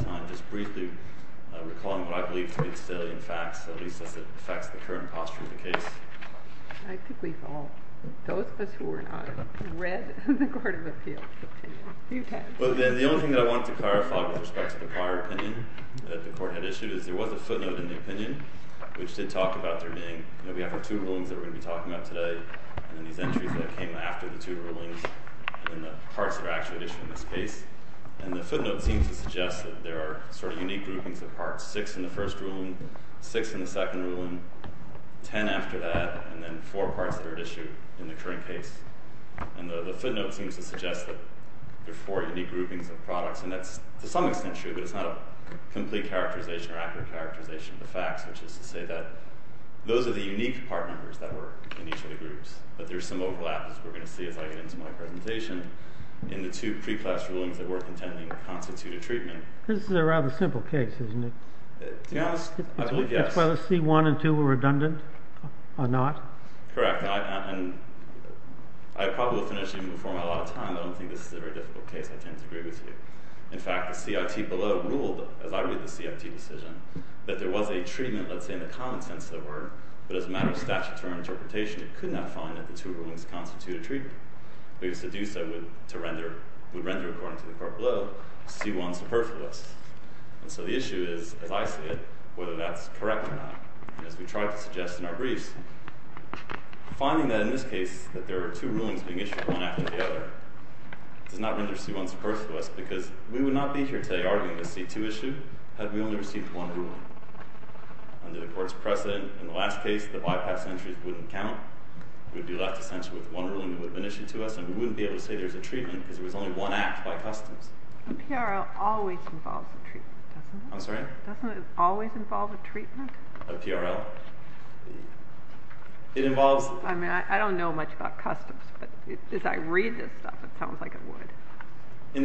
I just briefly recalling what I believe to be the salient facts, at least as it affects the current posture of the case. I think we've all, those of us who are not, read the Court of Appeals opinion a few times. The only thing that I wanted to clarify with respect to the prior opinion that the Court had issued is there was a footnote in the opinion, which did talk about there being, you know, we have the two rulings that we're going to be talking about today, and then these entries that came after the two rulings, and then the parts that are actually issued in this case. And the footnote seems to suggest that there are sort of unique groupings of parts. Six in the first ruling, six in the second ruling, ten after that, and then four parts that are issued in the current case. And the footnote seems to suggest that there are four unique groupings of products. And that's to some extent true, but it's not a complete characterization or accurate characterization of the facts, which is to say that those are the unique part numbers that were in each of the groups. But there's some overlap, as we're going to see as I get into my presentation, in the two pre-class rulings that we're contending constitute a treatment. This is a rather simple case, isn't it? To be honest, I believe yes. As far as C1 and 2 were redundant or not? Correct. And I probably will finish even before my allotted time, but I don't think this is a very difficult case. I tend to agree with you. In fact, the CIT below ruled, as I read the CIT decision, that there was a treatment, let's say, in the common sense of the word, but as a matter of statute or interpretation, it could not find that the two rulings constitute a treatment. Because to do so would render, according to the court below, C1 superfluous. And so the issue is, as I see it, whether that's correct or not. And as we tried to suggest in our briefs, finding that in this case that there are two rulings being issued one after the other does not render C1 superfluous because we would not be here today arguing the C2 issue had we only received one ruling. Under the court's precedent, in the last case, the bypass entries wouldn't count. We would be left essentially with one ruling that would have been issued to us, and we wouldn't be able to say there's a treatment because there was only one act by customs. A PRL always involves a treatment, doesn't it? I'm sorry? Doesn't it always involve a treatment? A PRL? It involves... I mean, I don't know much about customs, but as I read this stuff, it sounds like it would. And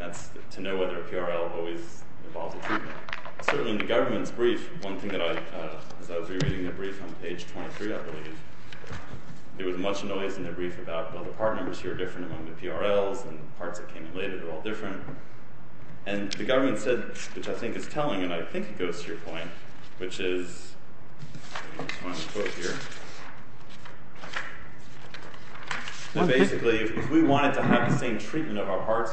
that's to know whether a PRL always involves a treatment. Certainly in the government's brief, one thing that I... As I was rereading the brief on page 23, I believe, there was much noise in the brief about, well, the part numbers here are different among the PRLs, and the parts that came in later, they're all different. And the government said, which I think is telling, and I think it goes to your point, which is... I just want to quote here. Basically, if we wanted to have the same treatment of our parts,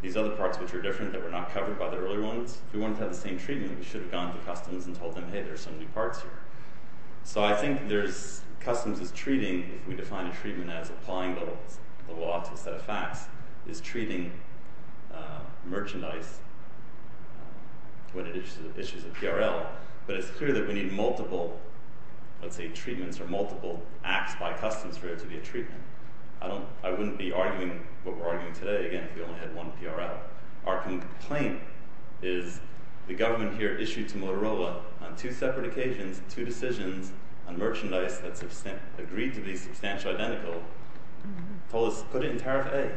these other parts which are different, that were not covered by the earlier ones, if we wanted to have the same treatment, we should have gone to customs and told them, hey, there's some new parts here. So I think customs is treating, if we define a treatment as applying the law to a set of facts, is treating merchandise when it issues a PRL. But it's clear that we need multiple, let's say, treatments or multiple acts by customs for it to be a treatment. I wouldn't be arguing what we're arguing today, again, if we only had one PRL. Our complaint is the government here issued to Motorola, on two separate occasions, two decisions on merchandise that's agreed to be substantially identical, told us, put it in tariff A.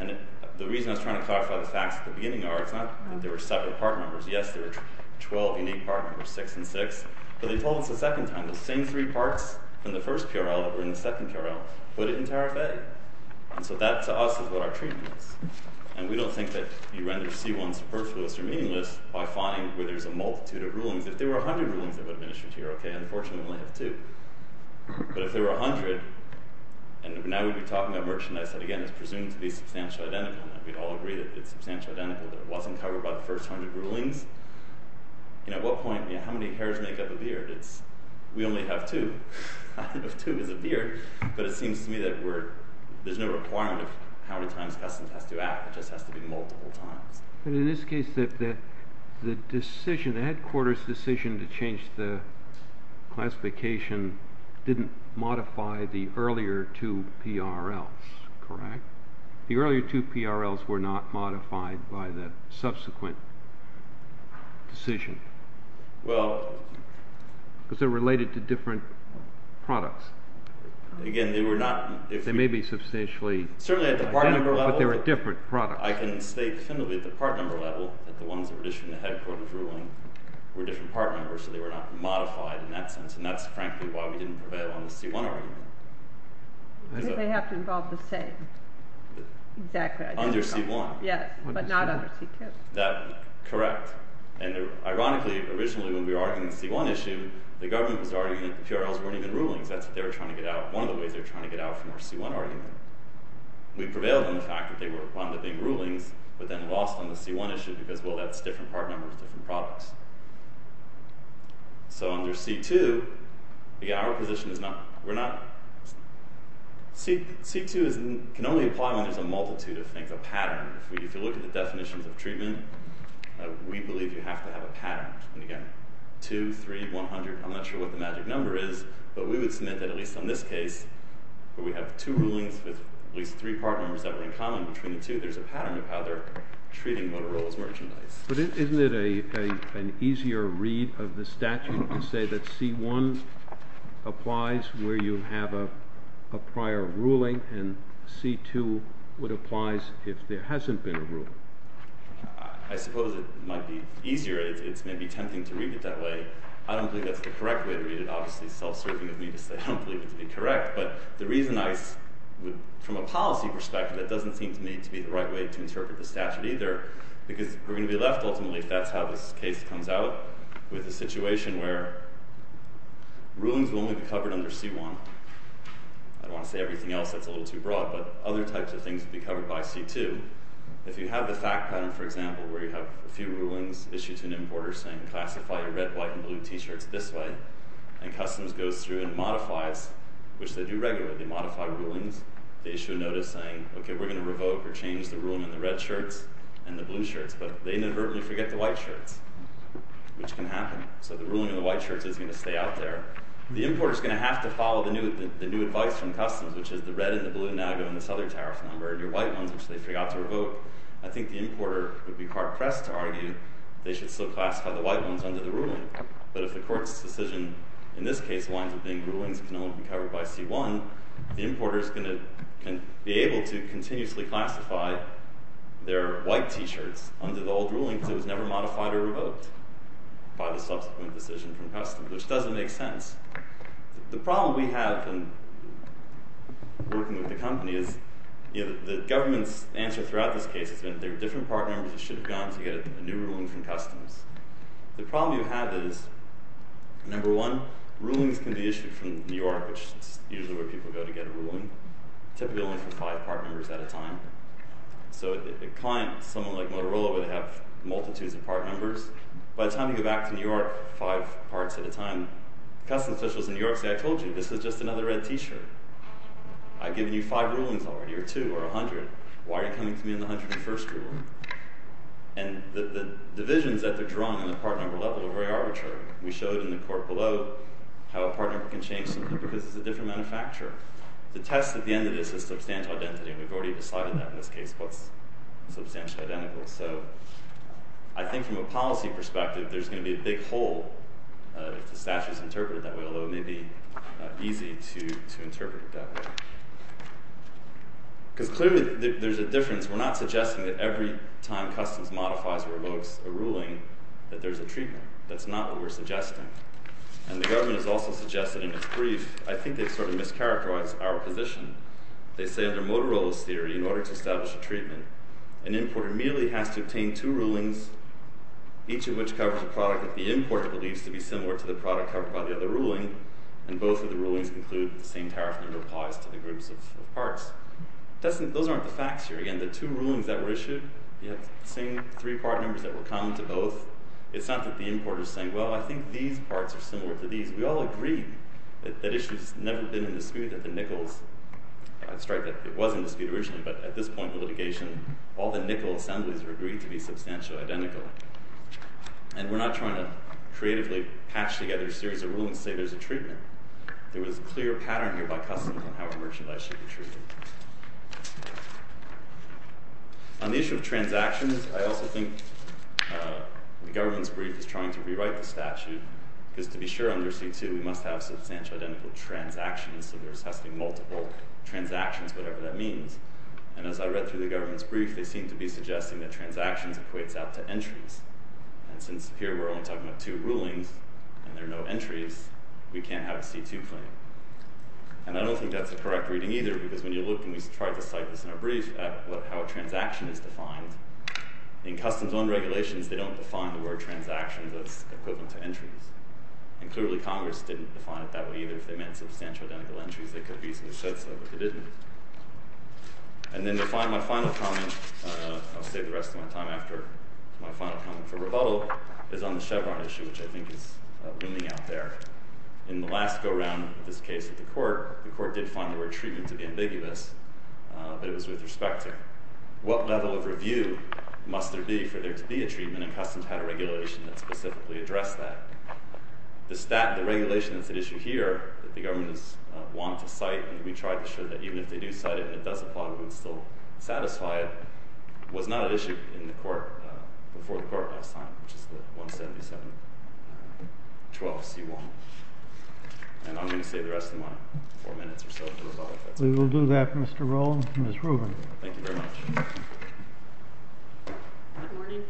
And the reason I was trying to clarify the facts at the beginning are, it's not that there were separate part numbers. Yes, there were 12 unique part numbers, 6 and 6. But they told us the second time, the same three parts in the first PRL that were in the second PRL, put it in tariff A. And so that, to us, is what our treatment is. And we don't think that you render C1 superfluous or meaningless by finding where there's a multitude of rulings. If there were 100 rulings that would have been issued here, okay, unfortunately we only have two. But if there were 100, and now we'd be talking about merchandise that, again, is presumed to be substantially identical, and we'd all agree that it's substantially identical, that it wasn't covered by the first 100 rulings, at what point, how many hairs make up a beard? We only have two. Two is a beard. But it seems to me that there's no requirement of how many times customs has to act. It just has to be multiple times. But in this case, the decision, the headquarters' decision to change the classification didn't modify the earlier two PRLs, correct? The earlier two PRLs were not modified by the subsequent decision. Well... Because they're related to different products. Again, they were not... They may be substantially identical, but they're a different product. I can state definitively at the part number level that the ones that were issued in the headquarters' ruling were different part numbers, so they were not modified in that sense. And that's, frankly, why we didn't prevail on the C1 argument. They have to involve the same. Exactly. Under C1. Yes, but not under C2. Correct. And ironically, originally, when we were arguing the C1 issue, the government was arguing that the PRLs weren't even rulings. That's what they were trying to get out, one of the ways they were trying to get out from our C1 argument. We prevailed on the fact that they were one of the big rulings, but then lost on the C1 issue, because, well, that's different part numbers, different products. So under C2, again, our position is not... C2 can only apply when there's a multitude of things, a pattern. If you look at the definitions of treatment, we believe you have to have a pattern. And again, 2, 3, 100, I'm not sure what the magic number is, but we would submit that at least on this case, where we have two rulings with at least three part numbers that were in common between the two, there's a pattern of how they're treating Motorola's merchandise. But isn't it an easier read of the statute to say that C1 applies where you have a prior ruling, and C2 would apply if there hasn't been a ruling? I suppose it might be easier. It's maybe tempting to read it that way. I don't believe that's the correct way to read it. Obviously, self-serving of me to say I don't believe it to be correct, but the reason I... From a policy perspective, that doesn't seem to me to be the right way to interpret the statute either, because we're going to be left, ultimately, if that's how this case comes out, with a situation where rulings will only be covered under C1. I don't want to say everything else that's a little too broad, but other types of things will be covered by C2. If you have the fact pattern, for example, where you have a few rulings issued to an importer saying, classify your red, white, and blue T-shirts this way, and customs goes through and modifies, which they do regularly, they modify rulings, they issue a notice saying, okay, we're going to revoke or change the ruling in the red shirts and the blue shirts, but they inadvertently forget the white shirts, which can happen. So the ruling in the white shirts is going to stay out there. The importer's going to have to follow the new advice from customs, which is the red and the blue now go in this other tariff number, and your white ones, which they forgot to revoke. I think the importer would be hard-pressed to argue they should still classify the white ones under the ruling, but if the court's decision in this case winds up being rulings can only be covered by C1, the importer's going to be able to continuously classify their white T-shirts under the old ruling because it was never modified or revoked by the subsequent decision from customs, which doesn't make sense. The problem we have in working with the company is the government's answer throughout this case has been there are different partners that should have gone to get a new ruling from customs. The problem you have is, number one, rulings can be issued from New York, which is usually where people go to get a ruling, typically only from five partners at a time. So a client, someone like Motorola, would have multitudes of partners. By the time you go back to New York, five parts at a time, customs officials in New York say, I told you, this is just another red T-shirt. I've given you five rulings already, or two, or 100. Why are you coming to me on the 101st ruling? And the divisions that they're drawing on the part number level are very arbitrary. We showed in the court below how a partner can change something because it's a different manufacturer. The test at the end of this is substantial identity, and we've already decided that in this case, what's substantially identical. So I think from a policy perspective, there's going to be a big hole if the statute is interpreted that way, although it may be easy to interpret it that way. Because clearly there's a difference. We're not suggesting that every time customs modifies or revokes a ruling that there's a treatment. That's not what we're suggesting. And the government has also suggested in its brief, I think they've sort of mischaracterized our position. They say under Motorola's theory, in order to establish a treatment, an importer immediately has to obtain two rulings, each of which covers a product that the importer believes to be similar to the product covered by the other ruling, and both of the rulings conclude that the same tariff number applies to the groups of parts. Those aren't the facts here. Again, the two rulings that were issued, you have the same three part numbers that were common to both. It's not that the importer is saying, well, I think these parts are similar to these. We all agree that that issue's never been in dispute at the Nichols. I'd strike that it was in dispute originally, but at this point in litigation, all the Nichols assemblies are agreed to be substantially identical. And we're not trying to creatively patch together a series of rulings to say there's a treatment. There was a clear pattern here by customs on how a merchandise should be treated. On the issue of transactions, I also think the government's brief is trying to rewrite the statute, because to be sure under C2, we must have substantial identical transactions. So they're assessing multiple transactions, whatever that means. And as I read through the government's brief, they seem to be suggesting that transactions equates out to entries. And since here we're only talking about two rulings, and there are no entries, we can't have a C2 claim. And I don't think that's a correct reading either, because when you look, and we tried to cite this in our brief, at how a transaction is defined, in customs on regulations, they don't define the word transactions as equivalent to entries. And clearly, Congress didn't define it that way either. If they meant substantial identical entries, they could have easily said so, but they didn't. And then my final comment, I'll save the rest of my time after my final comment for rebuttal, is on the Chevron issue, which I think is looming out there. In the last go-round of this case at the court, the court did find the word treatment to be ambiguous, must there be for there to be a treatment, and then customs had a regulation that specifically addressed that. The regulation that's at issue here, that the government has wanted to cite, and we tried to show that even if they do cite it, and it does apply, we would still satisfy it, was not at issue before the court last time, which is the 177.12 C1. And I'm going to save the rest of my four minutes or so for rebuttal. We will do that, Mr. Roland and Ms. Rubin. Thank you very much. Good morning.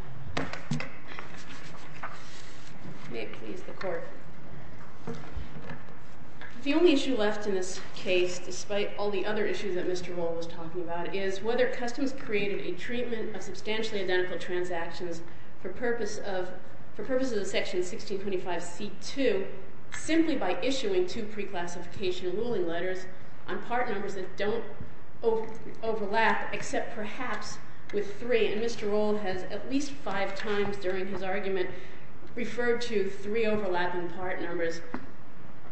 May it please the court. The only issue left in this case, despite all the other issues that Mr. Roland was talking about, is whether customs created a treatment of substantially identical transactions for purposes of Section 1625 C2, simply by issuing two pre-classification ruling letters on part numbers that don't overlap, except perhaps with three. And Mr. Roland has, at least five times during his argument, referred to three overlapping part numbers.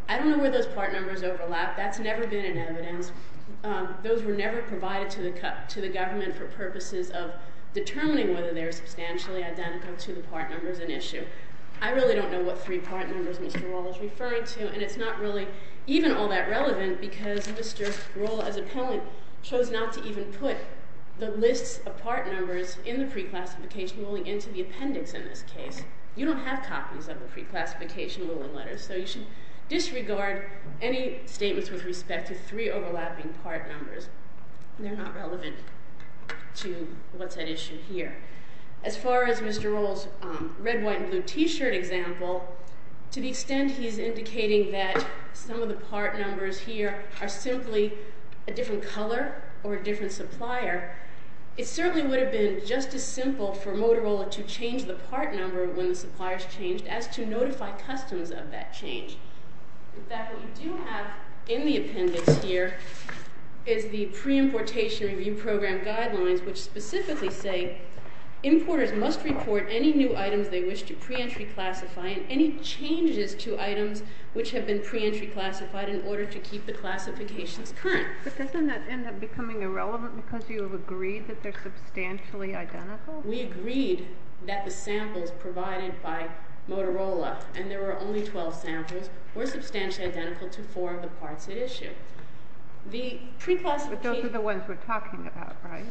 I don't know where those part numbers overlap. That's never been in evidence. Those were never provided to the government for purposes of determining whether they're substantially identical to the part numbers in issue. I really don't know what three part numbers Mr. Roland is referring to, and it's not really even all that relevant, because Mr. Roland, as appellant, chose not to even put the lists of part numbers in the pre-classification ruling into the appendix in this case. You don't have copies of the pre-classification ruling letters, so you should disregard any statements with respect to three overlapping part numbers. They're not relevant to what's at issue here. As far as Mr. Roland's red, white, and blue t-shirt example, to the extent he's indicating that some of the part numbers here are simply a different color or a different supplier, it certainly would have been just as simple for Motorola to change the part number when the supplier's changed as to notify customs of that change. In fact, what you do have in the appendix here is the pre-importation review program guidelines, which specifically say, importers must report any new items they wish to pre-entry classify and any changes to items which have been pre-entry classified in order to keep the classifications current. But doesn't that end up becoming irrelevant because you have agreed that they're substantially identical? We agreed that the samples provided by Motorola, and there were only 12 samples, were substantially identical to four of the parts at issue. The pre-classification... But those are the ones we're talking about, right?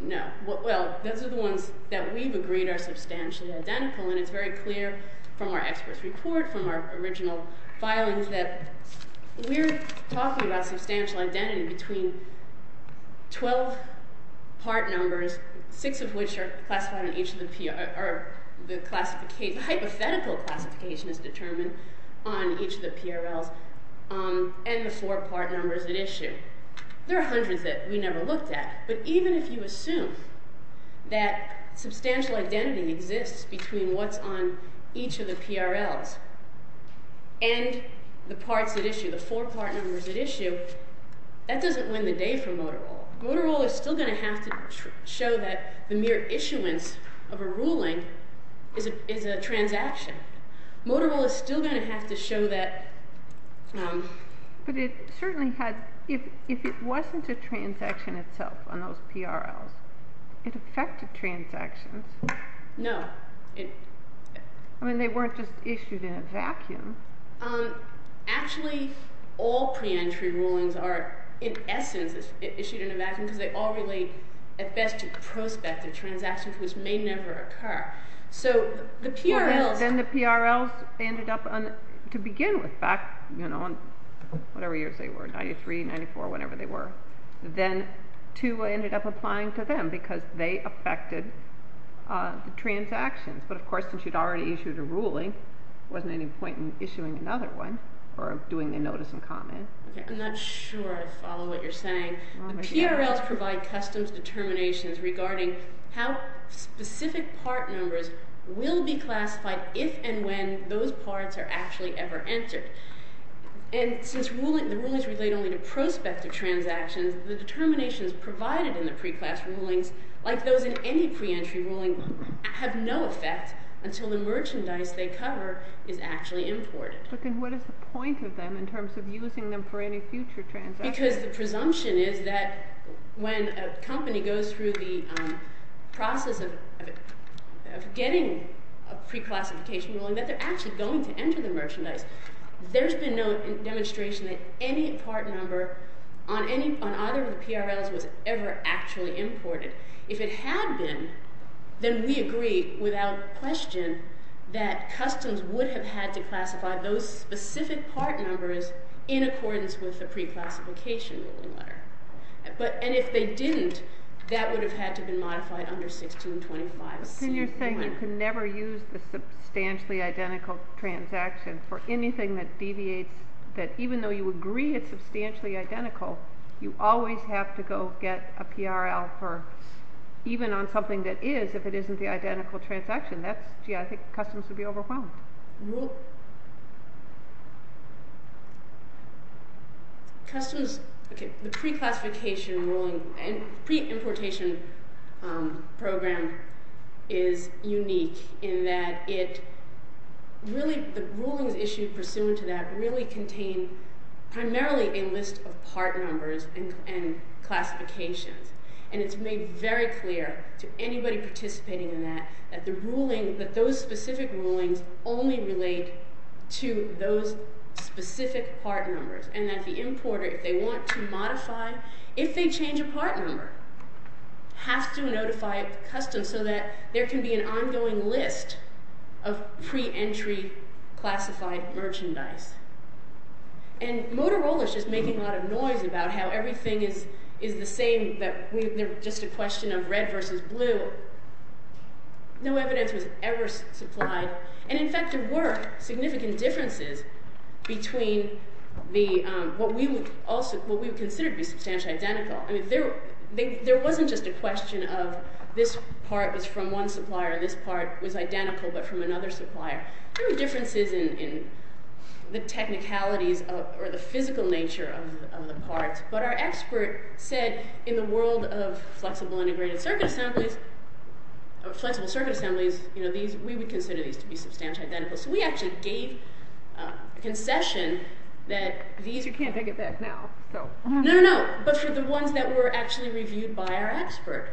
No. Well, those are the ones that we've agreed are substantially identical, and it's very clear from our experts' report, from our original filings, that we're talking about substantial identity between 12 part numbers, six of which are classified on each of the... or the hypothetical classification is determined on each of the PRLs, and the four part numbers at issue. There are hundreds that we never looked at, but even if you assume that substantial identity exists between what's on each of the PRLs and the parts at issue, the four part numbers at issue, that doesn't win the day for Motorola. Motorola is still going to have to show that the mere issuance of a ruling is a transaction. Motorola is still going to have to show that... But it certainly had... If it wasn't a transaction itself on those PRLs, it affected transactions. No. I mean, they weren't just issued in a vacuum. Actually, all pre-entry rulings are, in essence, issued in a vacuum because they all relate at best to prospective transactions, which may never occur. So the PRLs... Then the PRLs ended up, to begin with, back, you know, whatever years they were, 93, 94, whatever they were, then two ended up applying to them because they affected the transactions. But of course, since you'd already issued a ruling, there wasn't any point in issuing another one or doing a notice and comment. I'm not sure I follow what you're saying. PRLs provide customs determinations regarding how specific part numbers will be classified if and when those parts are actually ever entered. And since the rulings relate only to prospective transactions, the determinations provided in the pre-class rulings like those in any pre-entry ruling have no effect until the merchandise they cover is actually imported. But then what is the point of them in terms of using them for any future transactions? Because the presumption is that when a company goes through the process of getting a pre-classification ruling, that they're actually going to enter the merchandise. There's been no demonstration that any part number on either of the PRLs was ever actually imported. If it had been, then we agree without question that customs would have had to classify those specific part numbers in accordance with the pre-classification ruling letter. And if they didn't, that would have had to be modified under 1625. But then you're saying you can never use the substantially identical transaction for anything that deviates... that even though you agree it's substantially identical, you always have to go get a PRL even on something that is, if it isn't the identical transaction. I think customs would be overwhelmed. Customs... The pre-classification ruling... pre-importation program is unique in that it really... the rulings issued pursuant to that really contain primarily a list of part numbers and classifications. And it's made very clear to anybody participating in that that the ruling... that those specific rulings only relate to those specific part numbers. And that the importer, if they want to modify... if they change a part number, has to notify customs so that there can be an ongoing list of pre-entry classified merchandise. And Motorola's just making a lot of noise about how everything is the same, that they're just a question of red versus blue. No evidence was ever supplied. And, in fact, there were significant differences between the... what we would also... what we would consider to be substantially identical. I mean, there wasn't just a question of this part is from one supplier, this part was identical but from another supplier. There were differences in the technicalities or the physical nature of the parts. But our expert said, in the world of flexible integrated circuit assemblies... flexible circuit assemblies, we would consider these to be substantially identical. So we actually gave a concession that these... You can't take it back now, so... No, no, no, but for the ones that were actually reviewed by our expert.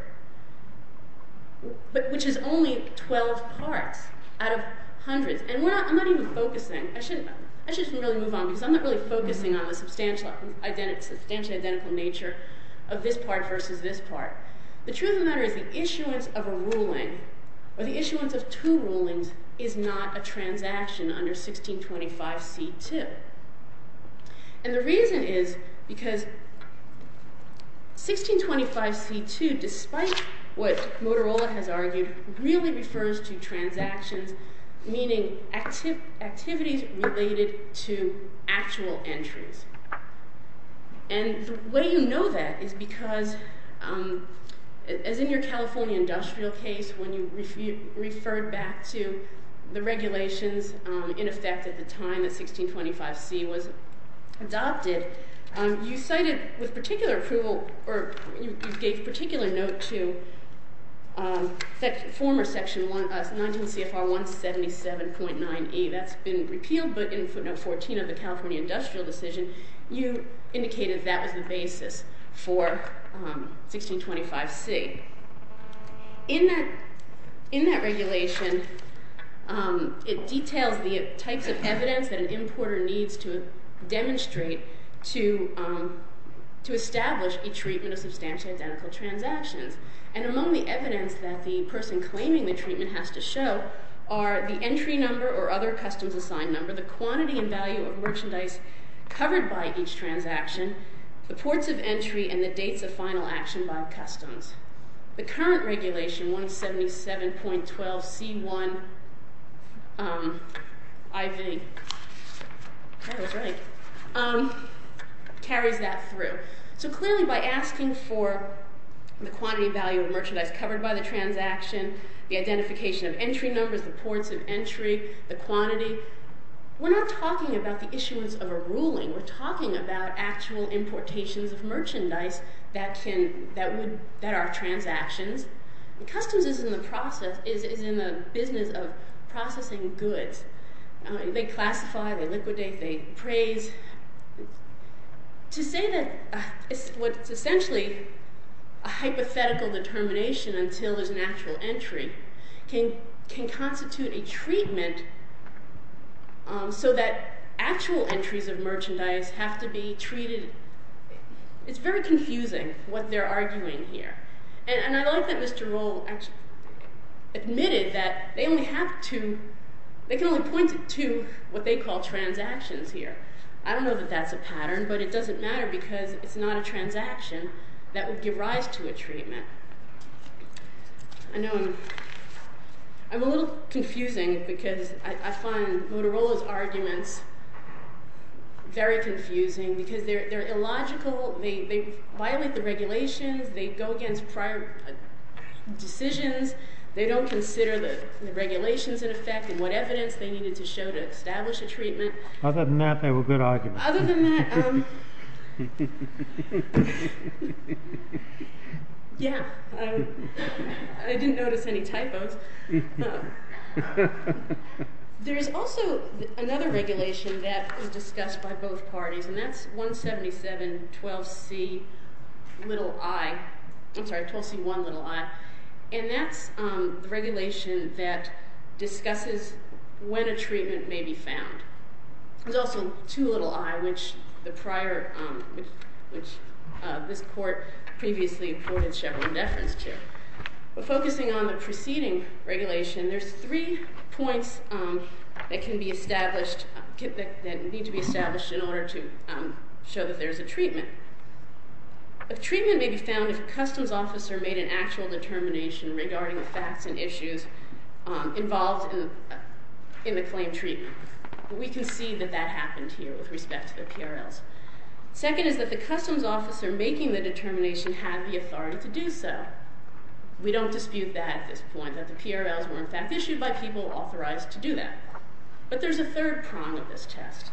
Which is only 12 parts out of hundreds. And I'm not even focusing. I should really move on because I'm not really focusing on the substantially identical nature of this part versus this part. The truth of the matter is the issuance of a ruling, or the issuance of two rulings, is not a transaction under 1625 C.2. And the reason is because... 1625 C.2, despite what Motorola has argued, really refers to transactions, meaning activities related to actual entries. And the way you know that is because, as in your California industrial case, when you referred back to the regulations in effect at the time that 1625 C.2 was adopted, you cited with particular approval, or you gave particular note to, that former section 19 CFR 177.9E, that's been repealed, but in footnote 14 of the California industrial decision, you indicated that was the basis for 1625 C. In that regulation, it details the types of evidence that an importer needs to demonstrate to establish a treatment of substantially identical transactions. And among the evidence that the person claiming the treatment has to show are the entry number or other customs assigned number, the quantity and value of merchandise covered by each transaction, the ports of entry, and the dates of final action by customs. The current regulation, 177.12 C.1 IV, carries that through. So clearly by asking for the quantity value of merchandise covered by the transaction, the identification of entry numbers, the ports of entry, the quantity, we're not talking about the issuance of a ruling. We're talking about actual importations of merchandise that are transactions. Customs is in the business of processing goods. They classify, they liquidate, they appraise. To say that what's essentially a hypothetical determination until there's an actual entry can constitute a treatment so that actual entries of merchandise have to be treated. It's very confusing what they're arguing here. And I like that Mr. Roll admitted that they can only point to what they call transactions here. I don't know that that's a pattern, but it doesn't matter because it's not a transaction that would give rise to a treatment. I know I'm a little confusing because I find Motorola's arguments very confusing because they're illogical. They violate the regulations. They go against prior decisions. They don't consider the regulations in effect and what evidence they needed to show to establish a treatment. Other than that, they were good arguments. Other than that, yeah. I didn't notice any typos. There's also another regulation that was discussed by both parties, and that's 17712C1i, and that's the regulation that discusses when a treatment may be found. There's also 2i, which this court previously appointed Chevron deference to. But focusing on the preceding regulation, there's three points that need to be established in order to show that there's a treatment. A treatment may be found if a customs officer made an actual determination regarding the facts and issues involved in the claimed treatment. We can see that that happened here with respect to the PRLs. Second is that the customs officer making the determination had the authority to do so. We don't dispute that at this point, that the PRLs were in fact issued by people authorized to do that. But there's a third prong of this test,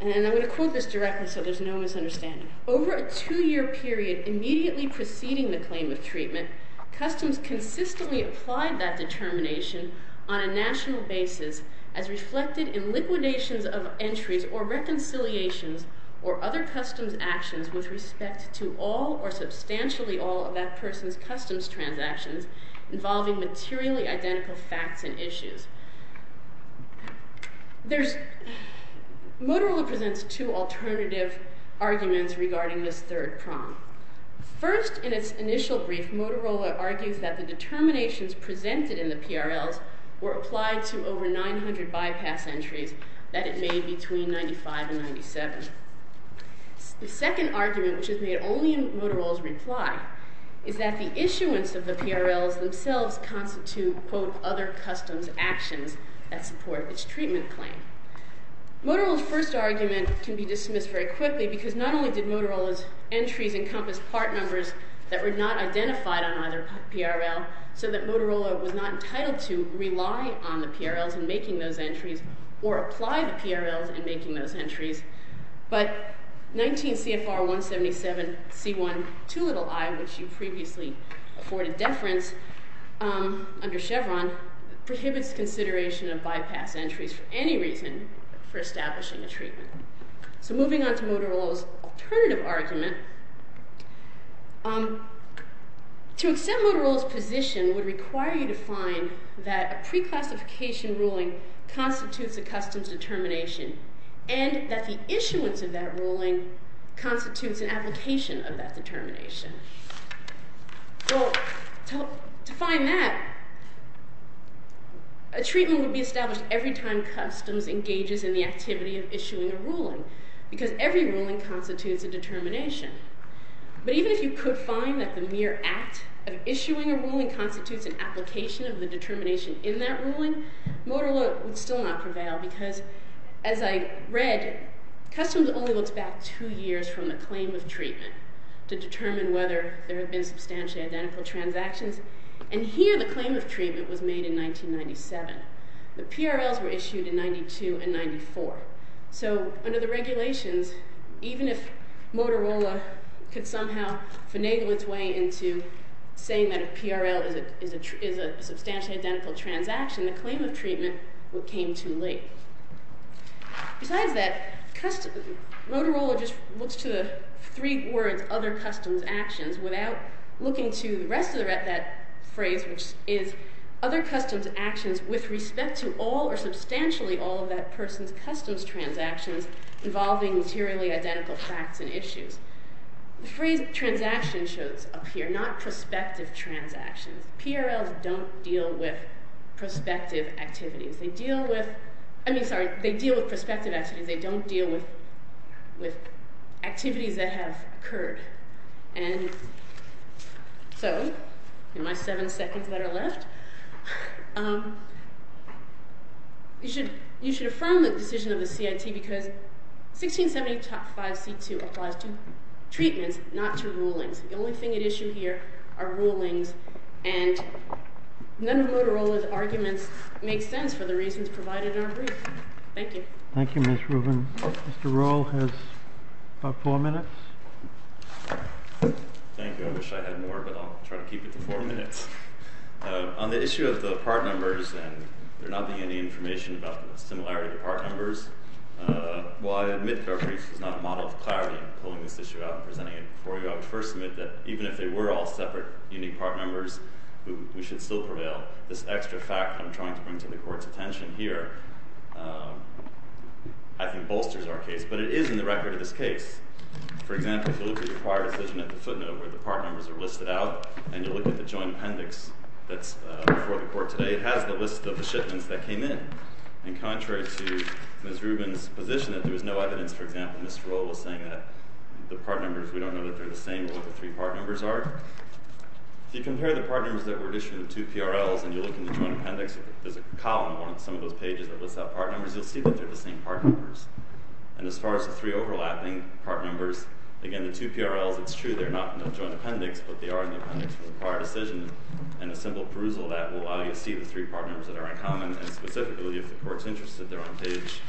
and I'm going to quote this directly so there's no misunderstanding. Over a two-year period immediately preceding the claim of treatment, customs consistently applied that determination on a national basis as reflected in liquidations of entries or reconciliations or other customs actions with respect to all or substantially all of that person's customs transactions involving materially identical facts and issues. Motorola presents two alternative arguments regarding this third prong. First, in its initial brief, Motorola argues that the determinations presented in the PRLs were applied to over 900 bypass entries that it made between 1995 and 1997. The second argument, which is made only in Motorola's reply, is that the issuance of the PRLs themselves constitute, quote, other customs actions that support its treatment claim. Motorola's first argument can be dismissed very quickly because not only did Motorola's entries encompass part numbers that were not identified on either PRL, so that Motorola was not entitled to rely on the PRLs in making those entries or apply the PRLs in making those entries, but 19 CFR 177 C1 2i, which you previously afforded deference under Chevron, prohibits consideration of bypass entries for any reason for establishing a treatment. So moving on to Motorola's alternative argument, to accept Motorola's position would require you to find that a pre-classification ruling constitutes a customs determination and that the issuance of that ruling constitutes an application of that determination. Well, to find that, a treatment would be established every time customs engages in the activity of issuing a ruling because every ruling constitutes a determination. But even if you could find that the mere act of issuing a ruling constitutes an application of the determination in that ruling, Motorola would still not prevail because, as I read, customs only looks back two years from the claim of treatment to determine whether there have been substantially identical transactions, and here the claim of treatment was made in 1997. The PRLs were issued in 92 and 94. So under the regulations, even if Motorola could somehow finagle its way into saying that a PRL is a substantially identical transaction, the claim of treatment came too late. Besides that, Motorola just looks to the three words, other customs actions, without looking to the rest of that phrase, which is other customs actions with respect to all or substantially all of that person's customs transactions involving materially identical facts and issues. The phrase transaction shows up here, not prospective transactions. PRLs don't deal with prospective activities. They deal with prospective activities. They don't deal with activities that have occurred. And so in my seven seconds that are left, you should affirm the decision of the CIT because 1670.5C2 applies to treatments, not to rulings. The only thing at issue here are rulings, and none of Motorola's arguments make sense for the reasons provided in our brief. Thank you. Thank you, Ms. Rubin. Mr. Rohl has about four minutes. Thank you. I wish I had more, but I'll try to keep it to four minutes. On the issue of the part numbers, and there not being any information about the similarity of the part numbers, while I admit that our brief is not a model of clarity in pulling this issue out and presenting it before you, I would first admit that even if they were all separate unique part numbers, we should still prevail. This extra fact I'm trying to bring to the Court's attention here, I think bolsters our case. But it is in the record of this case. For example, if you look at the prior decision at the footnote where the part numbers are listed out, and you look at the joint appendix that's before the Court today, it has the list of the shipments that came in. And contrary to Ms. Rubin's position that there was no evidence, for example, that Ms. Rowe was saying that the part numbers, we don't know that they're the same, or what the three part numbers are, if you compare the part numbers that were issued in the two PRLs, and you look in the joint appendix, there's a column on some of those pages that lists out part numbers, you'll see that they're the same part numbers. And as far as the three overlapping part numbers, again, the two PRLs, it's true, they're not in the joint appendix, but they are in the appendix for the prior decision, and a simple perusal of that will allow you to see the three part numbers that are in common, and specifically, if the Court's interested, they're on page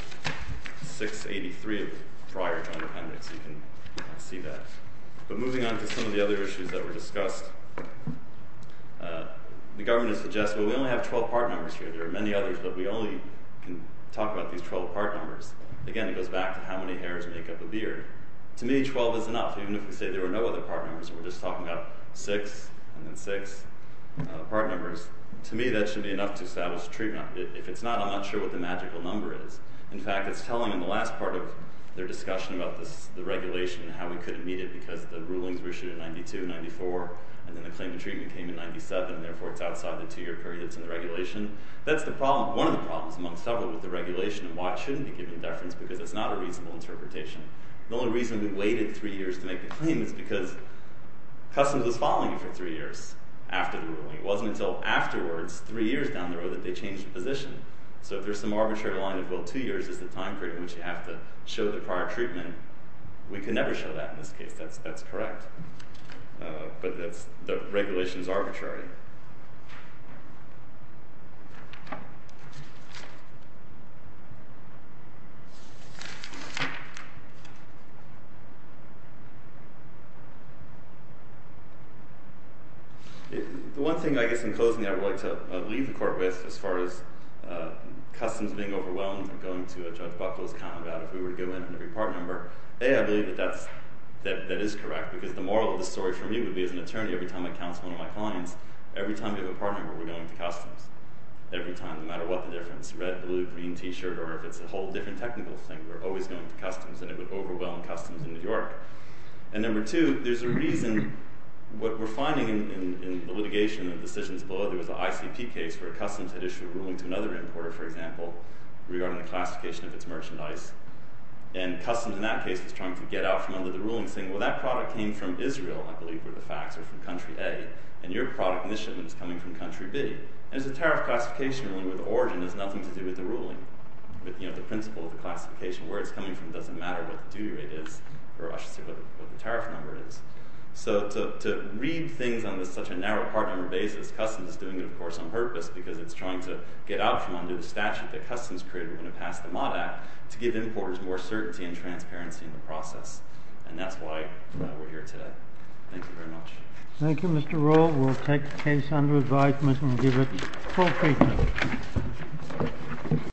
683 of the prior joint appendix, you can see that. But moving on to some of the other issues that were discussed, the government has suggested, well, we only have 12 part numbers here, there are many others, but we only can talk about these 12 part numbers. Again, it goes back to how many hairs make up a beard. To me, 12 is enough, even if we say there are no other part numbers, and we're just talking about six, and then six part numbers, to me that should be enough to establish a treatment. If it's not, I'm not sure what the magical number is. In fact, it's telling in the last part of their discussion about the regulation and how we couldn't meet it because the rulings were issued in 92, 94, and then the claim to treatment came in 97, and therefore it's outside the two-year period that's in the regulation. That's one of the problems among several with the regulation, and why it shouldn't be giving deference, because it's not a reasonable interpretation. The only reason we waited three years to make the claim is because customs was following it for three years after the ruling. It wasn't until afterwards, three years down the road, that they changed the position. So if there's some arbitrary line of, well, two years is the time period in which you have to show the prior treatment, we can never show that in this case. That's correct. But the regulation is arbitrary. The one thing, I guess, in closing, I would like to leave the court with, as far as customs being overwhelmed and going to Judge Buckle's account about if we were to go in on every part number, A, I believe that that is correct, because the moral of the story for me would be as an attorney, every time I counsel one of my clients, would be as an attorney, every time I counsel one of my clients, every time we have a part number, we're going to customs. Every time, no matter what the difference, red, blue, green, T-shirt, or if it's a whole different technical thing, we're always going to customs, and it would overwhelm customs in New York. And number two, there's a reason. What we're finding in the litigation and the decisions below, there was an ICP case where customs had issued a ruling to another importer, for example, regarding the classification of its merchandise, and customs in that case was trying to get out from under the ruling, saying, well, that product came from Israel, I believe were the facts, or from country A, and your product mission is coming from country B. And there's a tariff classification, where the origin has nothing to do with the ruling, but the principle of the classification, where it's coming from doesn't matter what the duty rate is, or I should say what the tariff number is. So to read things on such a narrow part number basis, customs is doing it, of course, on purpose, because it's trying to get out from under the statute that customs created when it passed the Mott Act to give importers more certainty and transparency in the process. And that's why we're here today. Thank you very much. Thank you, Mr. Rowe. We'll take the case under advisement and give it full treatment.